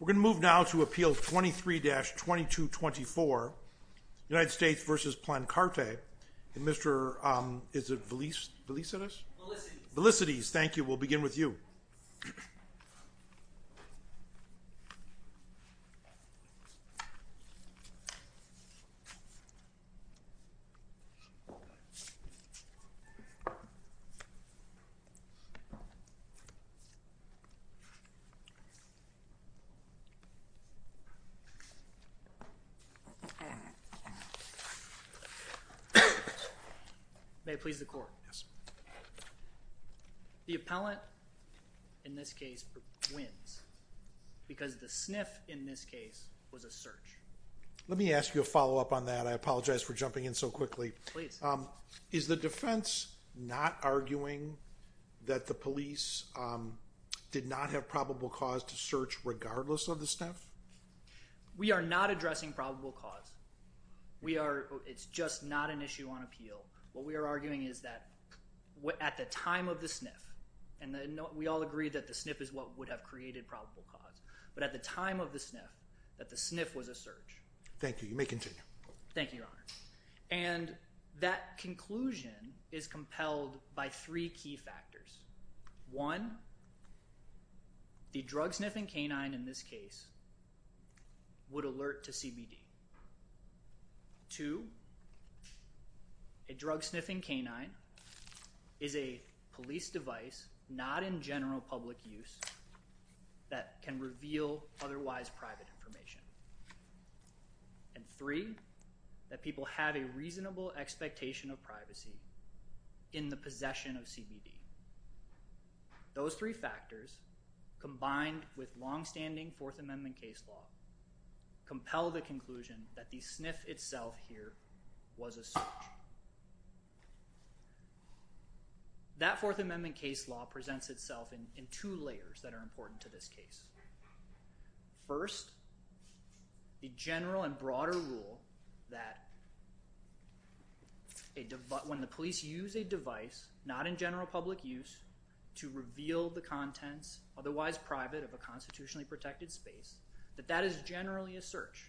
We're going to move now to Appeal 23-2224, United States v. Plancarte, and Mr. Velicides. Thank you. We'll begin with you. May it please the Court. The appellant in this case wins because the sniff in this case was a search. Let me ask you a follow-up on that. I apologize for jumping in so quickly. Please. Is the defense not arguing that the police did not have probable cause to search regardless of the sniff? We are not addressing probable cause. It's just not an issue on appeal. What we are arguing is that at the time of the sniff, and we all agree that the sniff is what would have created probable cause, but at the time of the sniff, that the sniff was a search. Thank you. You may continue. Thank you, Your Honor. And that conclusion is compelled by three key factors. One, the drug-sniffing canine in this case would alert to CBD. Two, a drug-sniffing canine is a police device not in general public use that can reveal otherwise private information. And three, that people have a reasonable expectation of privacy in the possession of CBD. Those three factors, combined with long-standing Fourth Amendment case law, compel the conclusion that the sniff itself here was a search. That Fourth Amendment case law presents itself in two layers that are important to this case. First, the general and broader rule that when the police use a device not in general public use to reveal the contents otherwise private of a constitutionally protected space, that that is generally a search.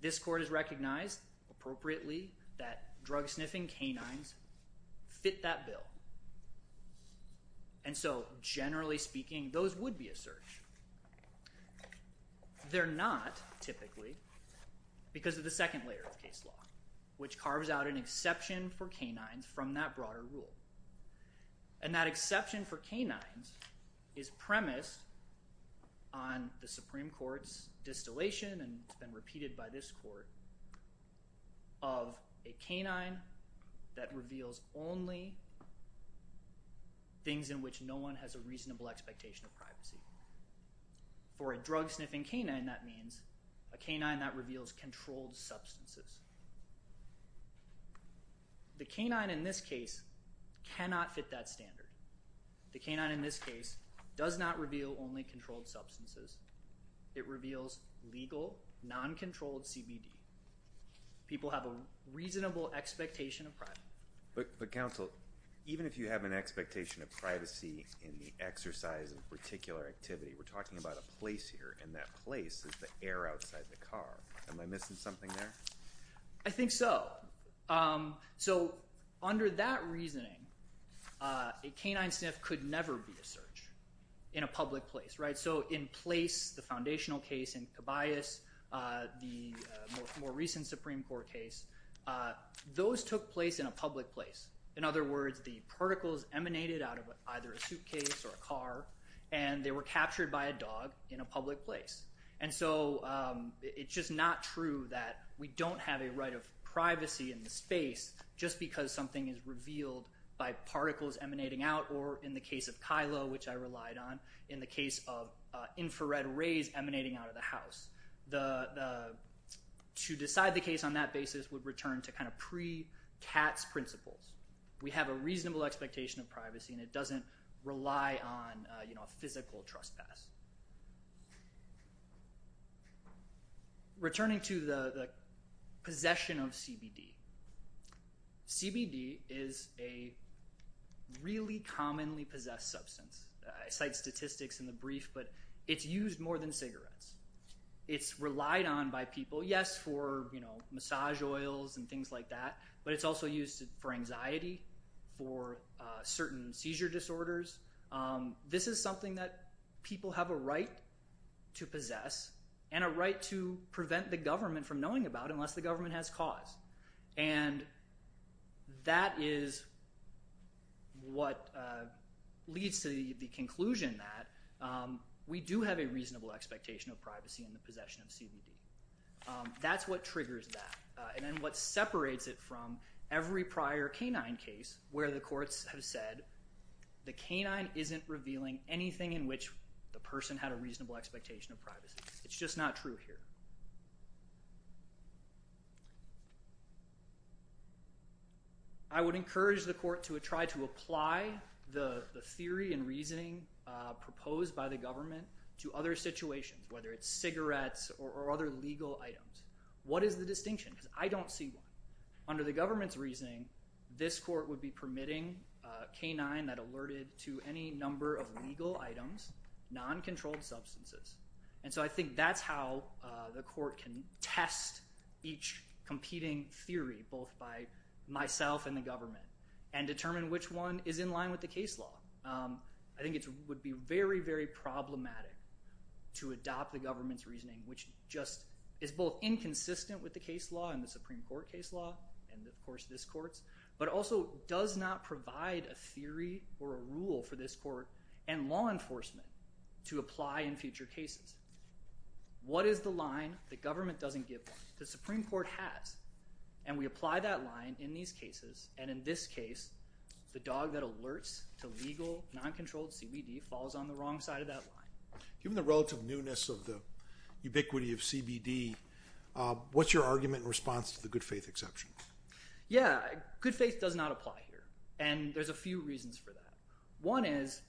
This Court has recognized appropriately that drug-sniffing canines fit that bill. And so generally speaking, those would be a search. They're not, typically, because of the second layer of case law, which carves out an exception for canines from that broader rule. And that exception for canines is premised on the Supreme Court's distillation, and it's been repeated by this Court, of a canine that reveals only things in which no one has a reasonable expectation of privacy. For a drug-sniffing canine, that means a canine that reveals controlled substances. The canine in this case cannot fit that standard. The canine in this case does not reveal only controlled substances. It reveals legal, non-controlled CBD. People have a reasonable expectation of privacy. But counsel, even if you have an expectation of privacy in the exercise of a particular activity, we're talking about a place here, and that place is the air outside the car. Am I missing something there? I think so. So under that reasoning, a canine sniff could never be a search in a public place, right? So in place, the foundational case in Cabayas, the more recent Supreme Court case, those took place in a public place. In other words, the particles emanated out of either a suitcase or a car, and they were captured by a dog in a public place. And so it's just not true that we don't have a right of privacy in the space just because something is revealed by particles emanating out, or in the case of Kylo, which I relied on, in the case of infrared rays emanating out of the house. To decide the case on that basis would return to kind of pre-CATS principles. We have a reasonable expectation of privacy, and it doesn't rely on a physical trespass. CBD is a really commonly possessed substance. I cite statistics in the brief, but it's used more than cigarettes. It's relied on by people, yes, for massage oils and things like that, but it's also used for anxiety, for certain seizure disorders. This is something that people have a right to possess and a right to prevent the government from knowing about unless the government has cause. And that is what leads to the conclusion that we do have a reasonable expectation of privacy in the possession of CBD. That's what triggers that, and then what separates it from every prior canine case where the courts have said the canine isn't revealing anything in which the person had a reasonable expectation of privacy. It's just not true here. I would encourage the court to try to apply the theory and reasoning proposed by the government to other situations, whether it's cigarettes or other legal items. What is the distinction? Because I don't see one. Under the government's reasoning, this court would be permitting a canine that alerted to any number of legal items, non-controlled substances. And so I think that's how the court can test each competing theory, both by myself and the government, and determine which one is in line with the case law. I think it would be very, very problematic to adopt the government's reasoning, which just is both inconsistent with the case law and the Supreme Court case law and, of course, this court's, but also does not provide a theory or a rule for this court and law enforcement to apply in future cases. What is the line the government doesn't give them? The Supreme Court has, and we apply that line in these cases, and in this case, the dog that alerts to legal, non-controlled CBD falls on the wrong side of that line. Given the relative newness of the ubiquity of CBD, what's your argument in response to the good faith exception? Yeah, good faith does not apply here, and there's a few reasons for that. One is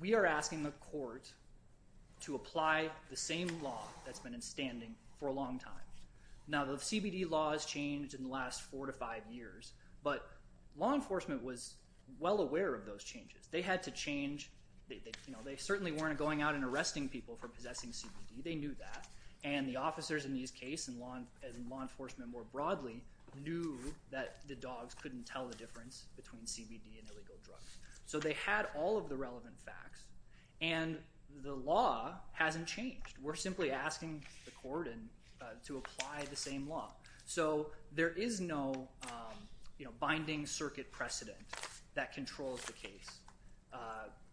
we are asking the court to apply the same law that's been in standing for a long time. Now, the CBD law has changed in the last four to five years, but law enforcement was well aware of those changes. They had to change – they certainly weren't going out and arresting people for possessing CBD. They knew that, and the officers in these cases and law enforcement more broadly knew that the dogs couldn't tell the difference between CBD and illegal drugs. So they had all of the relevant facts, and the law hasn't changed. We're simply asking the court to apply the same law. So there is no binding circuit precedent that controls the case,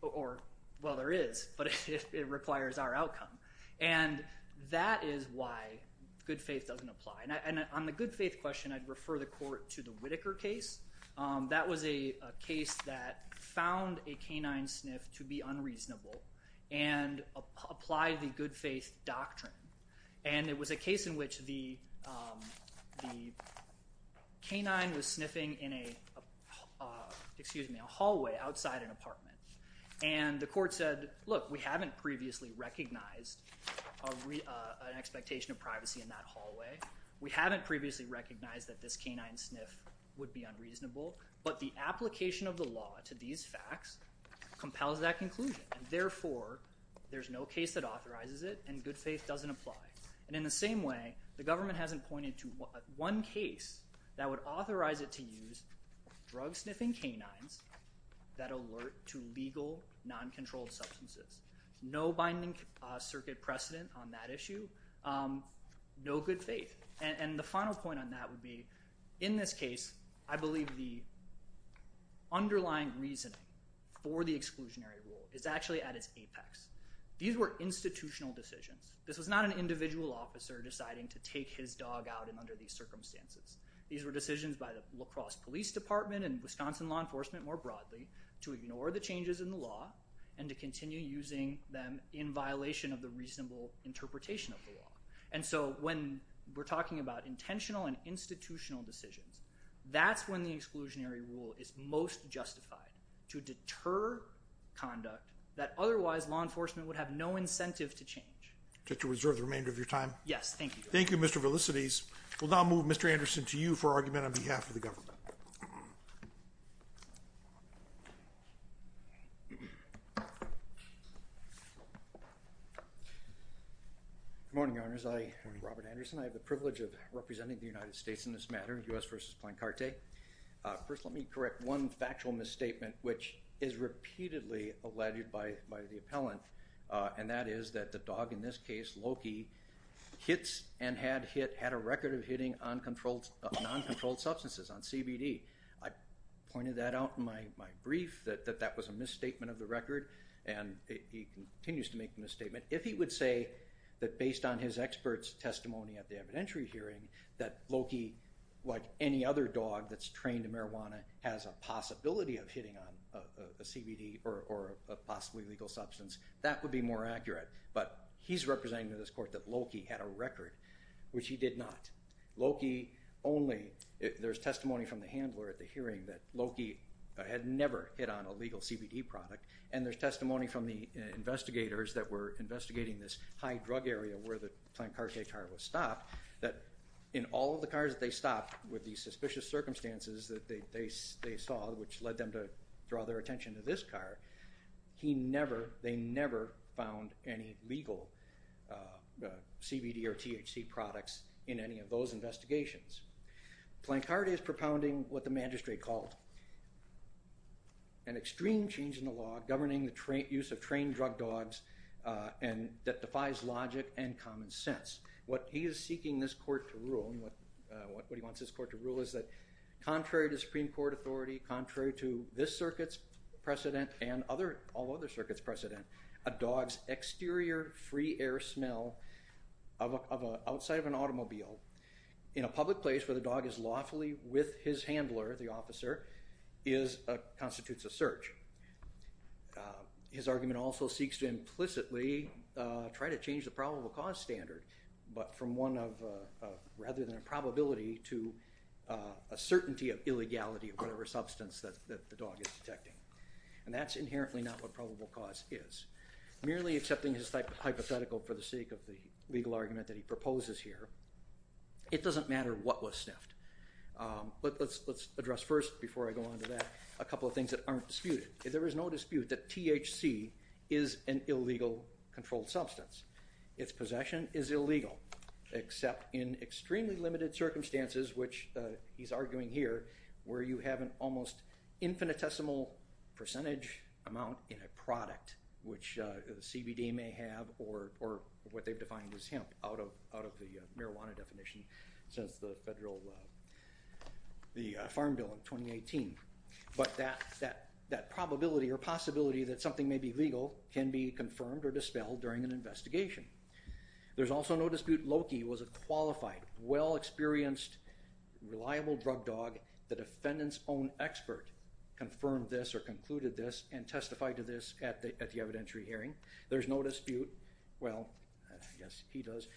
or – well, there is, but it requires our outcome. And that is why good faith doesn't apply. And on the good faith question, I'd refer the court to the Whitaker case. That was a case that found a canine sniff to be unreasonable and applied the good faith doctrine. And it was a case in which the canine was sniffing in a – excuse me, a hallway outside an apartment. And the court said, look, we haven't previously recognized an expectation of privacy in that hallway. We haven't previously recognized that this canine sniff would be unreasonable, but the application of the law to these facts compels that conclusion. And therefore, there's no case that authorizes it, and good faith doesn't apply. And in the same way, the government hasn't pointed to one case that would authorize it to use drug-sniffing canines that alert to legal, non-controlled substances. No binding circuit precedent on that issue. No good faith. And the final point on that would be in this case, I believe the underlying reasoning for the exclusionary rule is actually at its apex. These were institutional decisions. This was not an individual officer deciding to take his dog out under these circumstances. These were decisions by the La Crosse Police Department and Wisconsin law enforcement more broadly to ignore the changes in the law and to continue using them in violation of the reasonable interpretation of the law. And so when we're talking about intentional and institutional decisions, that's when the exclusionary rule is most justified, to deter conduct that otherwise law enforcement would have no incentive to change. Just to reserve the remainder of your time? Yes, thank you. Thank you, Mr. Velicites. We'll now move Mr. Anderson to you for argument on behalf of the government. Good morning, Your Honors. I am Robert Anderson. I have the privilege of representing the United States in this matter, U.S. v. Plancarte. First, let me correct one factual misstatement, which is repeatedly alleged by the appellant, and that is that the dog in this case, Loki, hits and had a record of hitting uncontrolled substances, on CBD. I pointed that out in my brief, that that was a misstatement of the record, and he continues to make the misstatement. If he would say that based on his expert's testimony at the evidentiary hearing, that Loki, like any other dog that's trained in marijuana, has a possibility of hitting on a CBD or a possibly legal substance, that would be more accurate. But he's representing to this court that Loki had a record, which he did not. Loki only, there's testimony from the handler at the hearing that Loki had never hit on a legal CBD product, and there's testimony from the investigators that were investigating this high drug area where the Plancarte car was stopped, that in all of the cars that they stopped with these suspicious circumstances that they saw, which led them to draw their attention to this car, they never found any legal CBD or THC products in any of those investigations. Plancarte is propounding what the magistrate called an extreme change in the law governing the use of trained drug dogs that defies logic and common sense. What he is seeking this court to rule, and what he wants this court to rule, is that contrary to Supreme Court authority, contrary to this circuit's precedent and all other circuits' precedent, a dog's exterior free air smell outside of an automobile, in a public place where the dog is lawfully with his handler, the officer, constitutes a search. His argument also seeks to implicitly try to change the probable cause standard, but from one of rather than a probability to a certainty of illegality of whatever substance that the dog is detecting. And that's inherently not what probable cause is. Merely accepting his hypothetical for the sake of the legal argument that he proposes here, it doesn't matter what was sniffed. But let's address first, before I go on to that, a couple of things that aren't disputed. There is no dispute that THC is an illegal controlled substance. Its possession is illegal, except in extremely limited circumstances, which he's arguing here, where you have an almost infinitesimal percentage amount in a product, which CBD may have, or what they've defined as hemp out of the marijuana definition since the federal Farm Bill of 2018. But that probability or possibility that something may be legal can be confirmed or dispelled during an investigation. There's also no dispute Loki was a qualified, well-experienced, reliable drug dog. The defendant's own expert confirmed this or concluded this and testified to this at the evidentiary hearing. There's no dispute, well, I guess he does,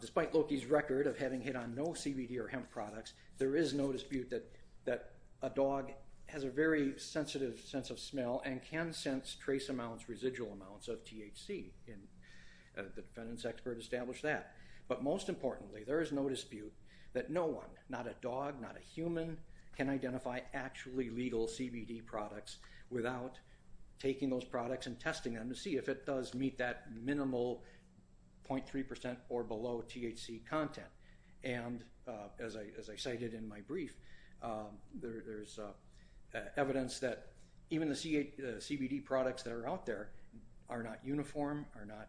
despite Loki's record of having hit on no CBD or hemp products, there is no dispute that a dog has a very sensitive sense of smell and can sense trace amounts, residual amounts of THC, and the defendant's expert established that. But most importantly, there is no dispute that no one, not a dog, not a human, can identify actually legal CBD products without taking those products and testing them to see if it does meet that minimal 0.3% or below THC content. And as I cited in my brief, there's evidence that even the CBD products that are out there are not uniform, are not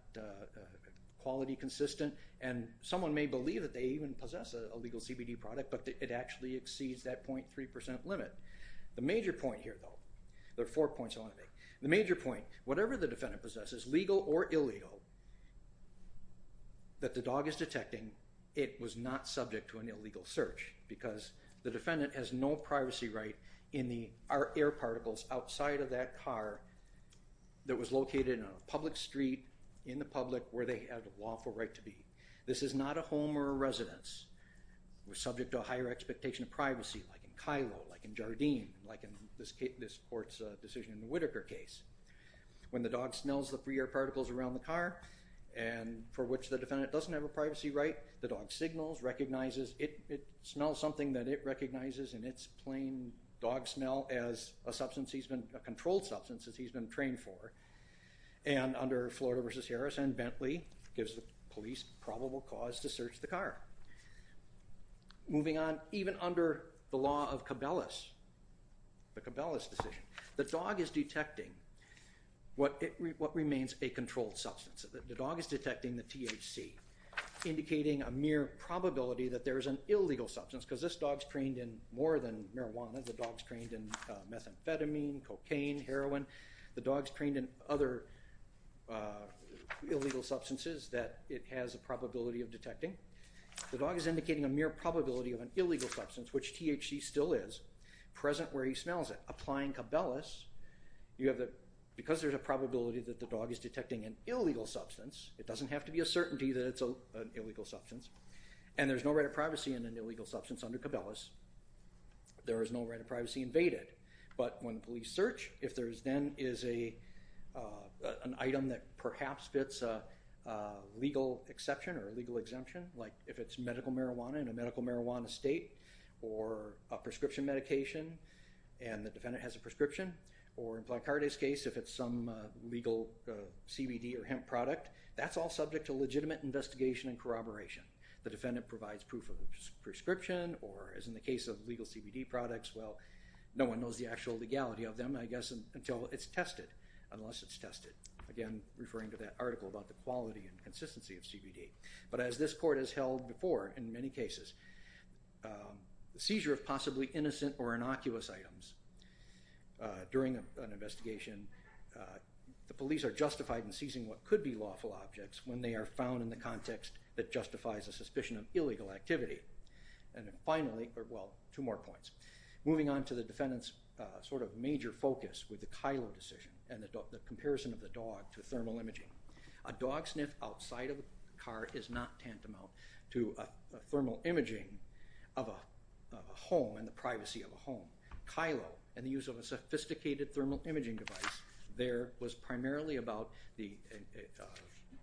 quality consistent, and someone may believe that they even possess a legal CBD product, but it actually exceeds that 0.3% limit. The major point here, though, there are four points I want to make. The major point, whatever the defendant possesses, legal or illegal, that the dog is detecting, it was not subject to an illegal search because the defendant has no privacy right in the air particles outside of that car that was located on a public street in the public where they had a lawful right to be. This is not a home or a residence. We're subject to a higher expectation of privacy, like in Kylo, like in Jardim, like in this court's decision in the Whitaker case. When the dog smells the free air particles around the car, and for which the defendant doesn't have a privacy right, the dog signals, recognizes, it smells something that it recognizes, and it's plain dog smell as a substance, a controlled substance that he's been trained for. And under Florida v. Harrison, Bentley gives the police probable cause to search the car. Moving on, even under the law of Cabela's, the Cabela's decision, the dog is detecting what remains a controlled substance. The dog is detecting the THC, indicating a mere probability that there is an illegal substance, because this dog's trained in more than marijuana. The dog's trained in methamphetamine, cocaine, heroin. The dog's trained in other illegal substances that it has a probability of detecting. The dog is indicating a mere probability of an illegal substance, which THC still is, present where he smells it. Applying Cabela's, because there's a probability that the dog is detecting an illegal substance, it doesn't have to be a certainty that it's an illegal substance, and there's no right of privacy in an illegal substance under Cabela's, there is no right of privacy invaded. But when the police search, if there then is an item that perhaps fits a legal exception or a legal exemption, like if it's medical marijuana in a medical marijuana state, or a prescription medication, and the defendant has a prescription, or in Blancardi's case, if it's some legal CBD or hemp product, that's all subject to legitimate investigation and corroboration. The defendant provides proof of the prescription, or as in the case of legal CBD products, well, no one knows the actual legality of them, I guess, until it's tested, unless it's tested. Again, referring to that article about the quality and consistency of CBD. But as this court has held before in many cases, seizure of possibly innocent or innocuous items during an investigation, the police are justified in seizing what could be lawful objects when they are found in the context that justifies a suspicion of illegal activity. And finally, well, two more points. Moving on to the defendant's sort of major focus with the Kylo decision and the comparison of the dog to thermal imaging. A dog sniff outside of the car is not tantamount to a thermal imaging of a home and the privacy of a home. Kylo and the use of a sophisticated thermal imaging device there was primarily about the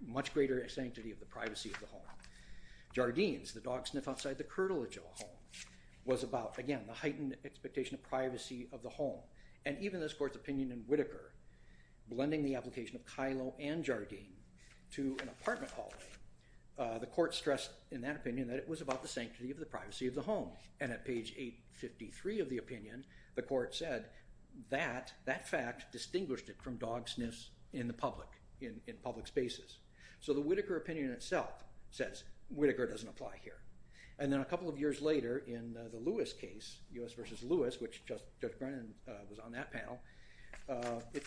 much greater sanctity of the privacy of the home. Jardine's, the dog sniff outside the curtilage of a home, was about, again, the heightened expectation of privacy of the home. And even this court's opinion in Whitaker, blending the application of Kylo and Jardine to an apartment hallway, the court stressed in that opinion that it was about the sanctity of the privacy of the home. And at page 853 of the opinion, the court said that that fact distinguished it from dog sniffs in the public, in public spaces. So the Whitaker opinion itself says Whitaker doesn't apply here. And then a couple of years later in the Lewis case, U.S. v. Lewis, which Judge Brennan was on that panel, it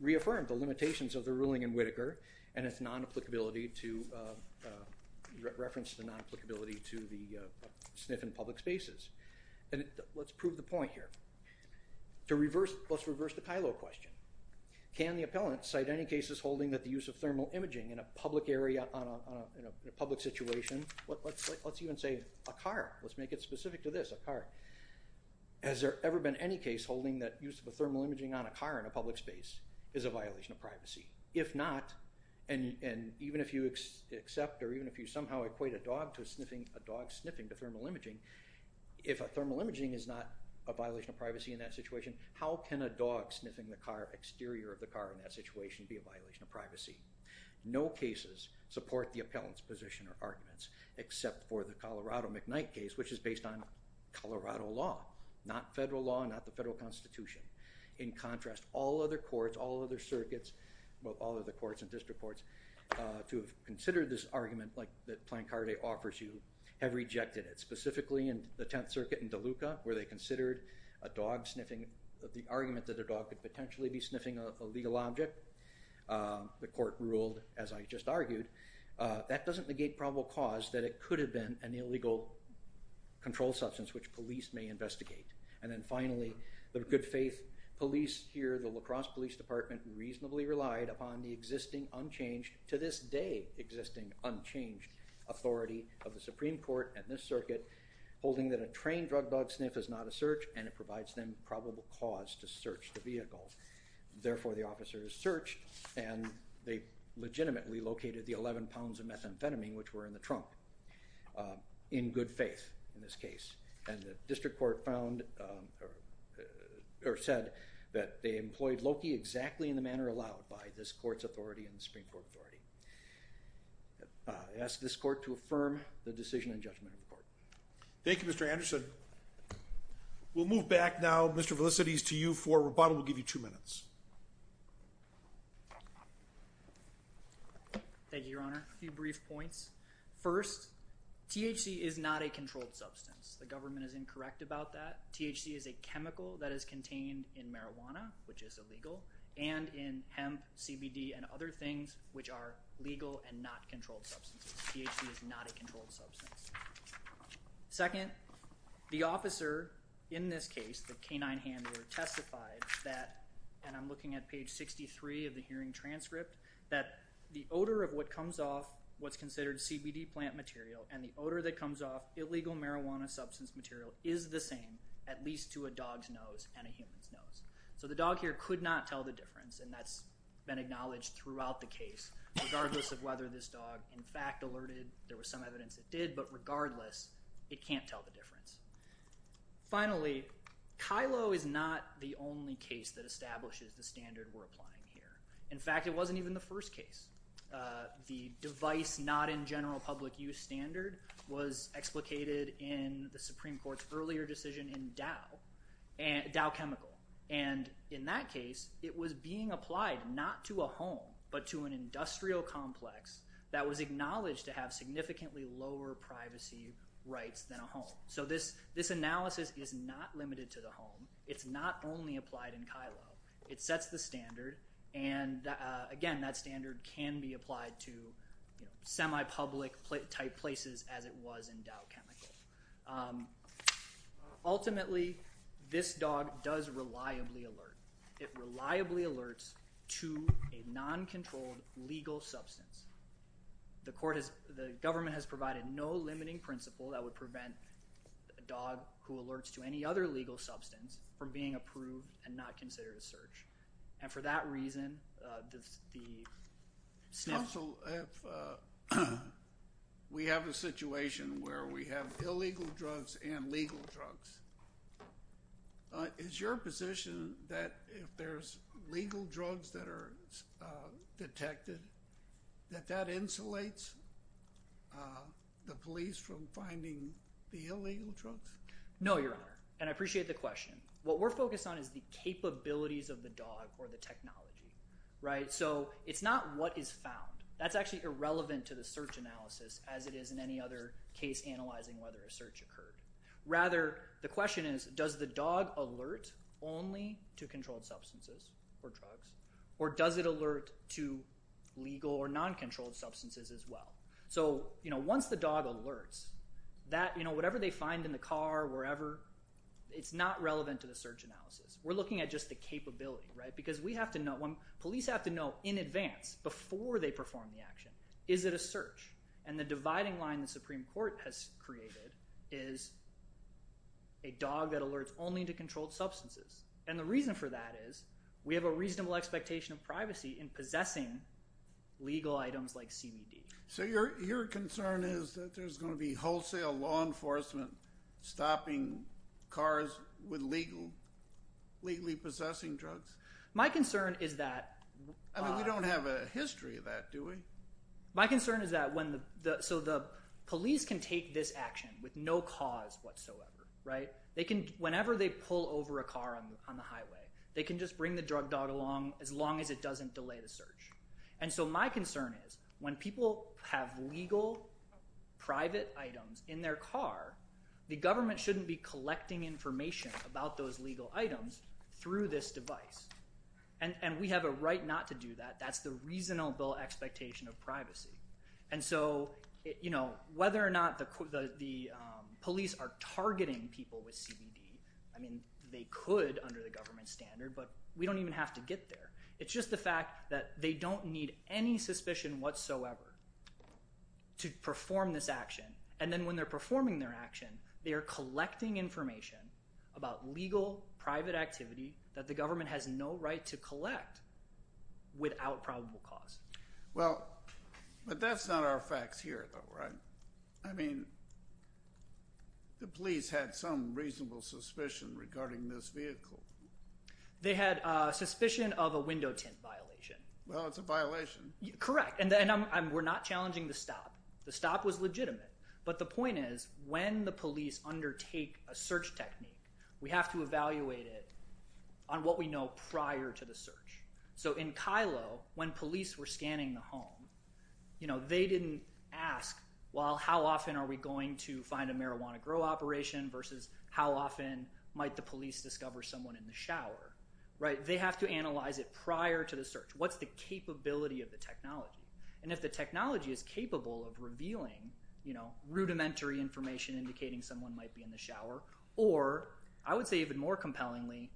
reaffirmed the limitations of the ruling in Whitaker and its non-applicability to, referenced the non-applicability to the sniff in public spaces. And let's prove the point here. To reverse, let's reverse the Kylo question. Can the appellant cite any cases holding that the use of thermal imaging in a public area, in a public situation, let's even say a car, let's make it specific to this, a car, has there ever been any case holding that use of a thermal imaging on a car in a public space is a violation of privacy? If not, and even if you accept or even if you somehow equate a dog to sniffing, a dog sniffing to thermal imaging, if a thermal imaging is not a violation of privacy in that situation, how can a dog sniffing the exterior of the car in that situation be a violation of privacy? No cases support the appellant's position or arguments, except for the Colorado McKnight case, which is based on Colorado law, not federal law, not the federal constitution. In contrast, all other courts, all other circuits, all other courts and district courts, to have considered this argument that Plancarde offers you, have rejected it. Specifically in the Tenth Circuit in Deluca, where they considered a dog sniffing, the argument that a dog could potentially be sniffing a legal object, the court ruled, as I just argued, that doesn't negate probable cause that it could have been an illegal control substance which police may investigate. And then finally, the good faith police here, the La Crosse Police Department, reasonably relied upon the existing unchanged, to this day existing unchanged, authority of the Supreme Court and this circuit, holding that a trained drug dog sniff is not a search and it provides them probable cause to search the vehicle. Therefore, the officers searched and they legitimately located the 11 pounds of methamphetamine, which were in the trunk, in good faith in this case. And the district court found, or said, that they employed Loki exactly in the manner allowed by this court's authority and the Supreme Court authority. I ask this court to affirm the decision and judgment of the court. Thank you, Mr. Anderson. We'll move back now, Mr. Felicities, to you for rebuttal. We'll give you two minutes. Thank you, Your Honor. A few brief points. First, THC is not a controlled substance. The government is incorrect about that. THC is a chemical that is contained in marijuana, which is illegal, and in hemp, CBD, and other things which are legal and not controlled substances. THC is not a controlled substance. Second, the officer in this case, the canine handler, testified that, and I'm looking at page 63 of the hearing transcript, that the odor of what comes off what's considered CBD plant material and the odor that comes off illegal marijuana substance material is the same, at least to a dog's nose and a human's nose. So the dog here could not tell the difference, and that's been acknowledged throughout the case, regardless of whether this dog, in fact, alerted. There was some evidence it did, but regardless, it can't tell the difference. Finally, Kylo is not the only case that establishes the standard we're applying here. In fact, it wasn't even the first case. The device not in general public use standard was explicated in the Supreme Court's earlier decision in Dow Chemical, and in that case, it was being applied not to a home but to an industrial complex that was acknowledged to have significantly lower privacy rights than a home. So this analysis is not limited to the home. It's not only applied in Kylo. It sets the standard, and again, that standard can be applied to semi-public type places as it was in Dow Chemical. Ultimately, this dog does reliably alert. It reliably alerts to a non-controlled legal substance. The government has provided no limiting principle that would prevent a dog who alerts to any other legal substance from being approved and not considered a search, and for that reason, the SNF… Counsel, we have a situation where we have illegal drugs and legal drugs. Is your position that if there's legal drugs that are detected, that that insulates the police from finding the illegal drugs? No, Your Honor, and I appreciate the question. What we're focused on is the capabilities of the dog or the technology, right? So it's not what is found. That's actually irrelevant to the search analysis as it is in any other case analyzing whether a search occurred. Rather, the question is does the dog alert only to controlled substances or drugs or does it alert to legal or non-controlled substances as well? So once the dog alerts, whatever they find in the car, wherever, it's not relevant to the search analysis. We're looking at just the capability, right? Because we have to know, police have to know in advance, before they perform the action, is it a search? And the dividing line the Supreme Court has created is a dog that alerts only to controlled substances. And the reason for that is we have a reasonable expectation of privacy in possessing legal items like CBD. So your concern is that there's going to be wholesale law enforcement stopping cars with legally possessing drugs? My concern is that— I mean we don't have a history of that, do we? My concern is that when—so the police can take this action with no cause whatsoever, right? Whenever they pull over a car on the highway, they can just bring the drug dog along as long as it doesn't delay the search. And so my concern is when people have legal private items in their car, the government shouldn't be collecting information about those legal items through this device. And we have a right not to do that. That's the reasonable expectation of privacy. And so whether or not the police are targeting people with CBD, I mean they could under the government standard, but we don't even have to get there. It's just the fact that they don't need any suspicion whatsoever to perform this action. And then when they're performing their action, they are collecting information about legal private activity that the government has no right to collect without probable cause. Well, but that's not our facts here though, right? I mean the police had some reasonable suspicion regarding this vehicle. They had suspicion of a window tint violation. Well, it's a violation. Correct. And we're not challenging the stop. The stop was legitimate. But the point is when the police undertake a search technique, we have to evaluate it on what we know prior to the search. So in Kylo, when police were scanning the home, they didn't ask well how often are we going to find a marijuana grow operation versus how often might the police discover someone in the shower, right? They have to analyze it prior to the search. What's the capability of the technology? And if the technology is capable of revealing rudimentary information indicating someone might be in the shower or I would say even more compellingly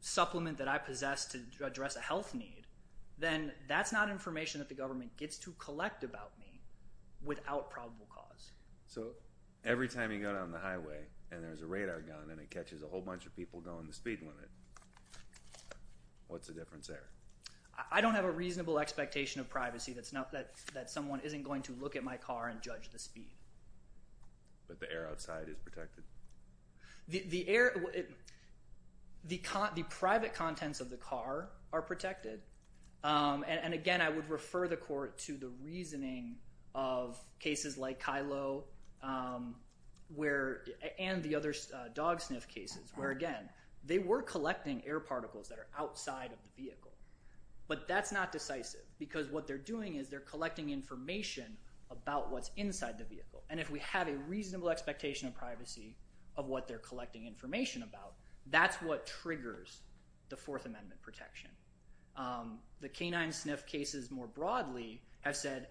supplement that I possess to address a health need, then that's not information that the government gets to collect about me without probable cause. So every time you go down the highway and there's a radar gun and it catches a whole bunch of people going the speed limit, what's the difference there? I don't have a reasonable expectation of privacy that someone isn't going to look at my car and judge the speed. But the air outside is protected? The air—the private contents of the car are protected. And again, I would refer the court to the reasoning of cases like Kylo and the other dog sniff cases where, again, they were collecting air particles that are outside of the vehicle. But that's not decisive because what they're doing is they're collecting information about what's inside the vehicle. And if we have a reasonable expectation of privacy of what they're collecting information about, that's what triggers the Fourth Amendment protection. The canine sniff cases more broadly have said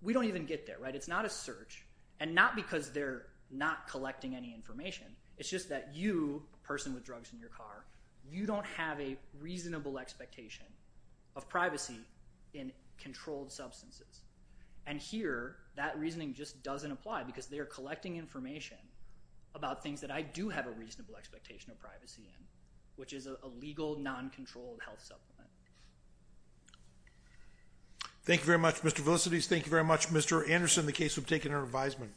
we don't even get there. It's not a search and not because they're not collecting any information. It's just that you, a person with drugs in your car, you don't have a reasonable expectation of privacy in controlled substances. And here that reasoning just doesn't apply because they are collecting information about things that I do have a reasonable expectation of privacy in, which is a legal, non-controlled health supplement. Thank you very much, Mr. Velicites. Thank you very much, Mr. Anderson, the case. We've taken our advisement.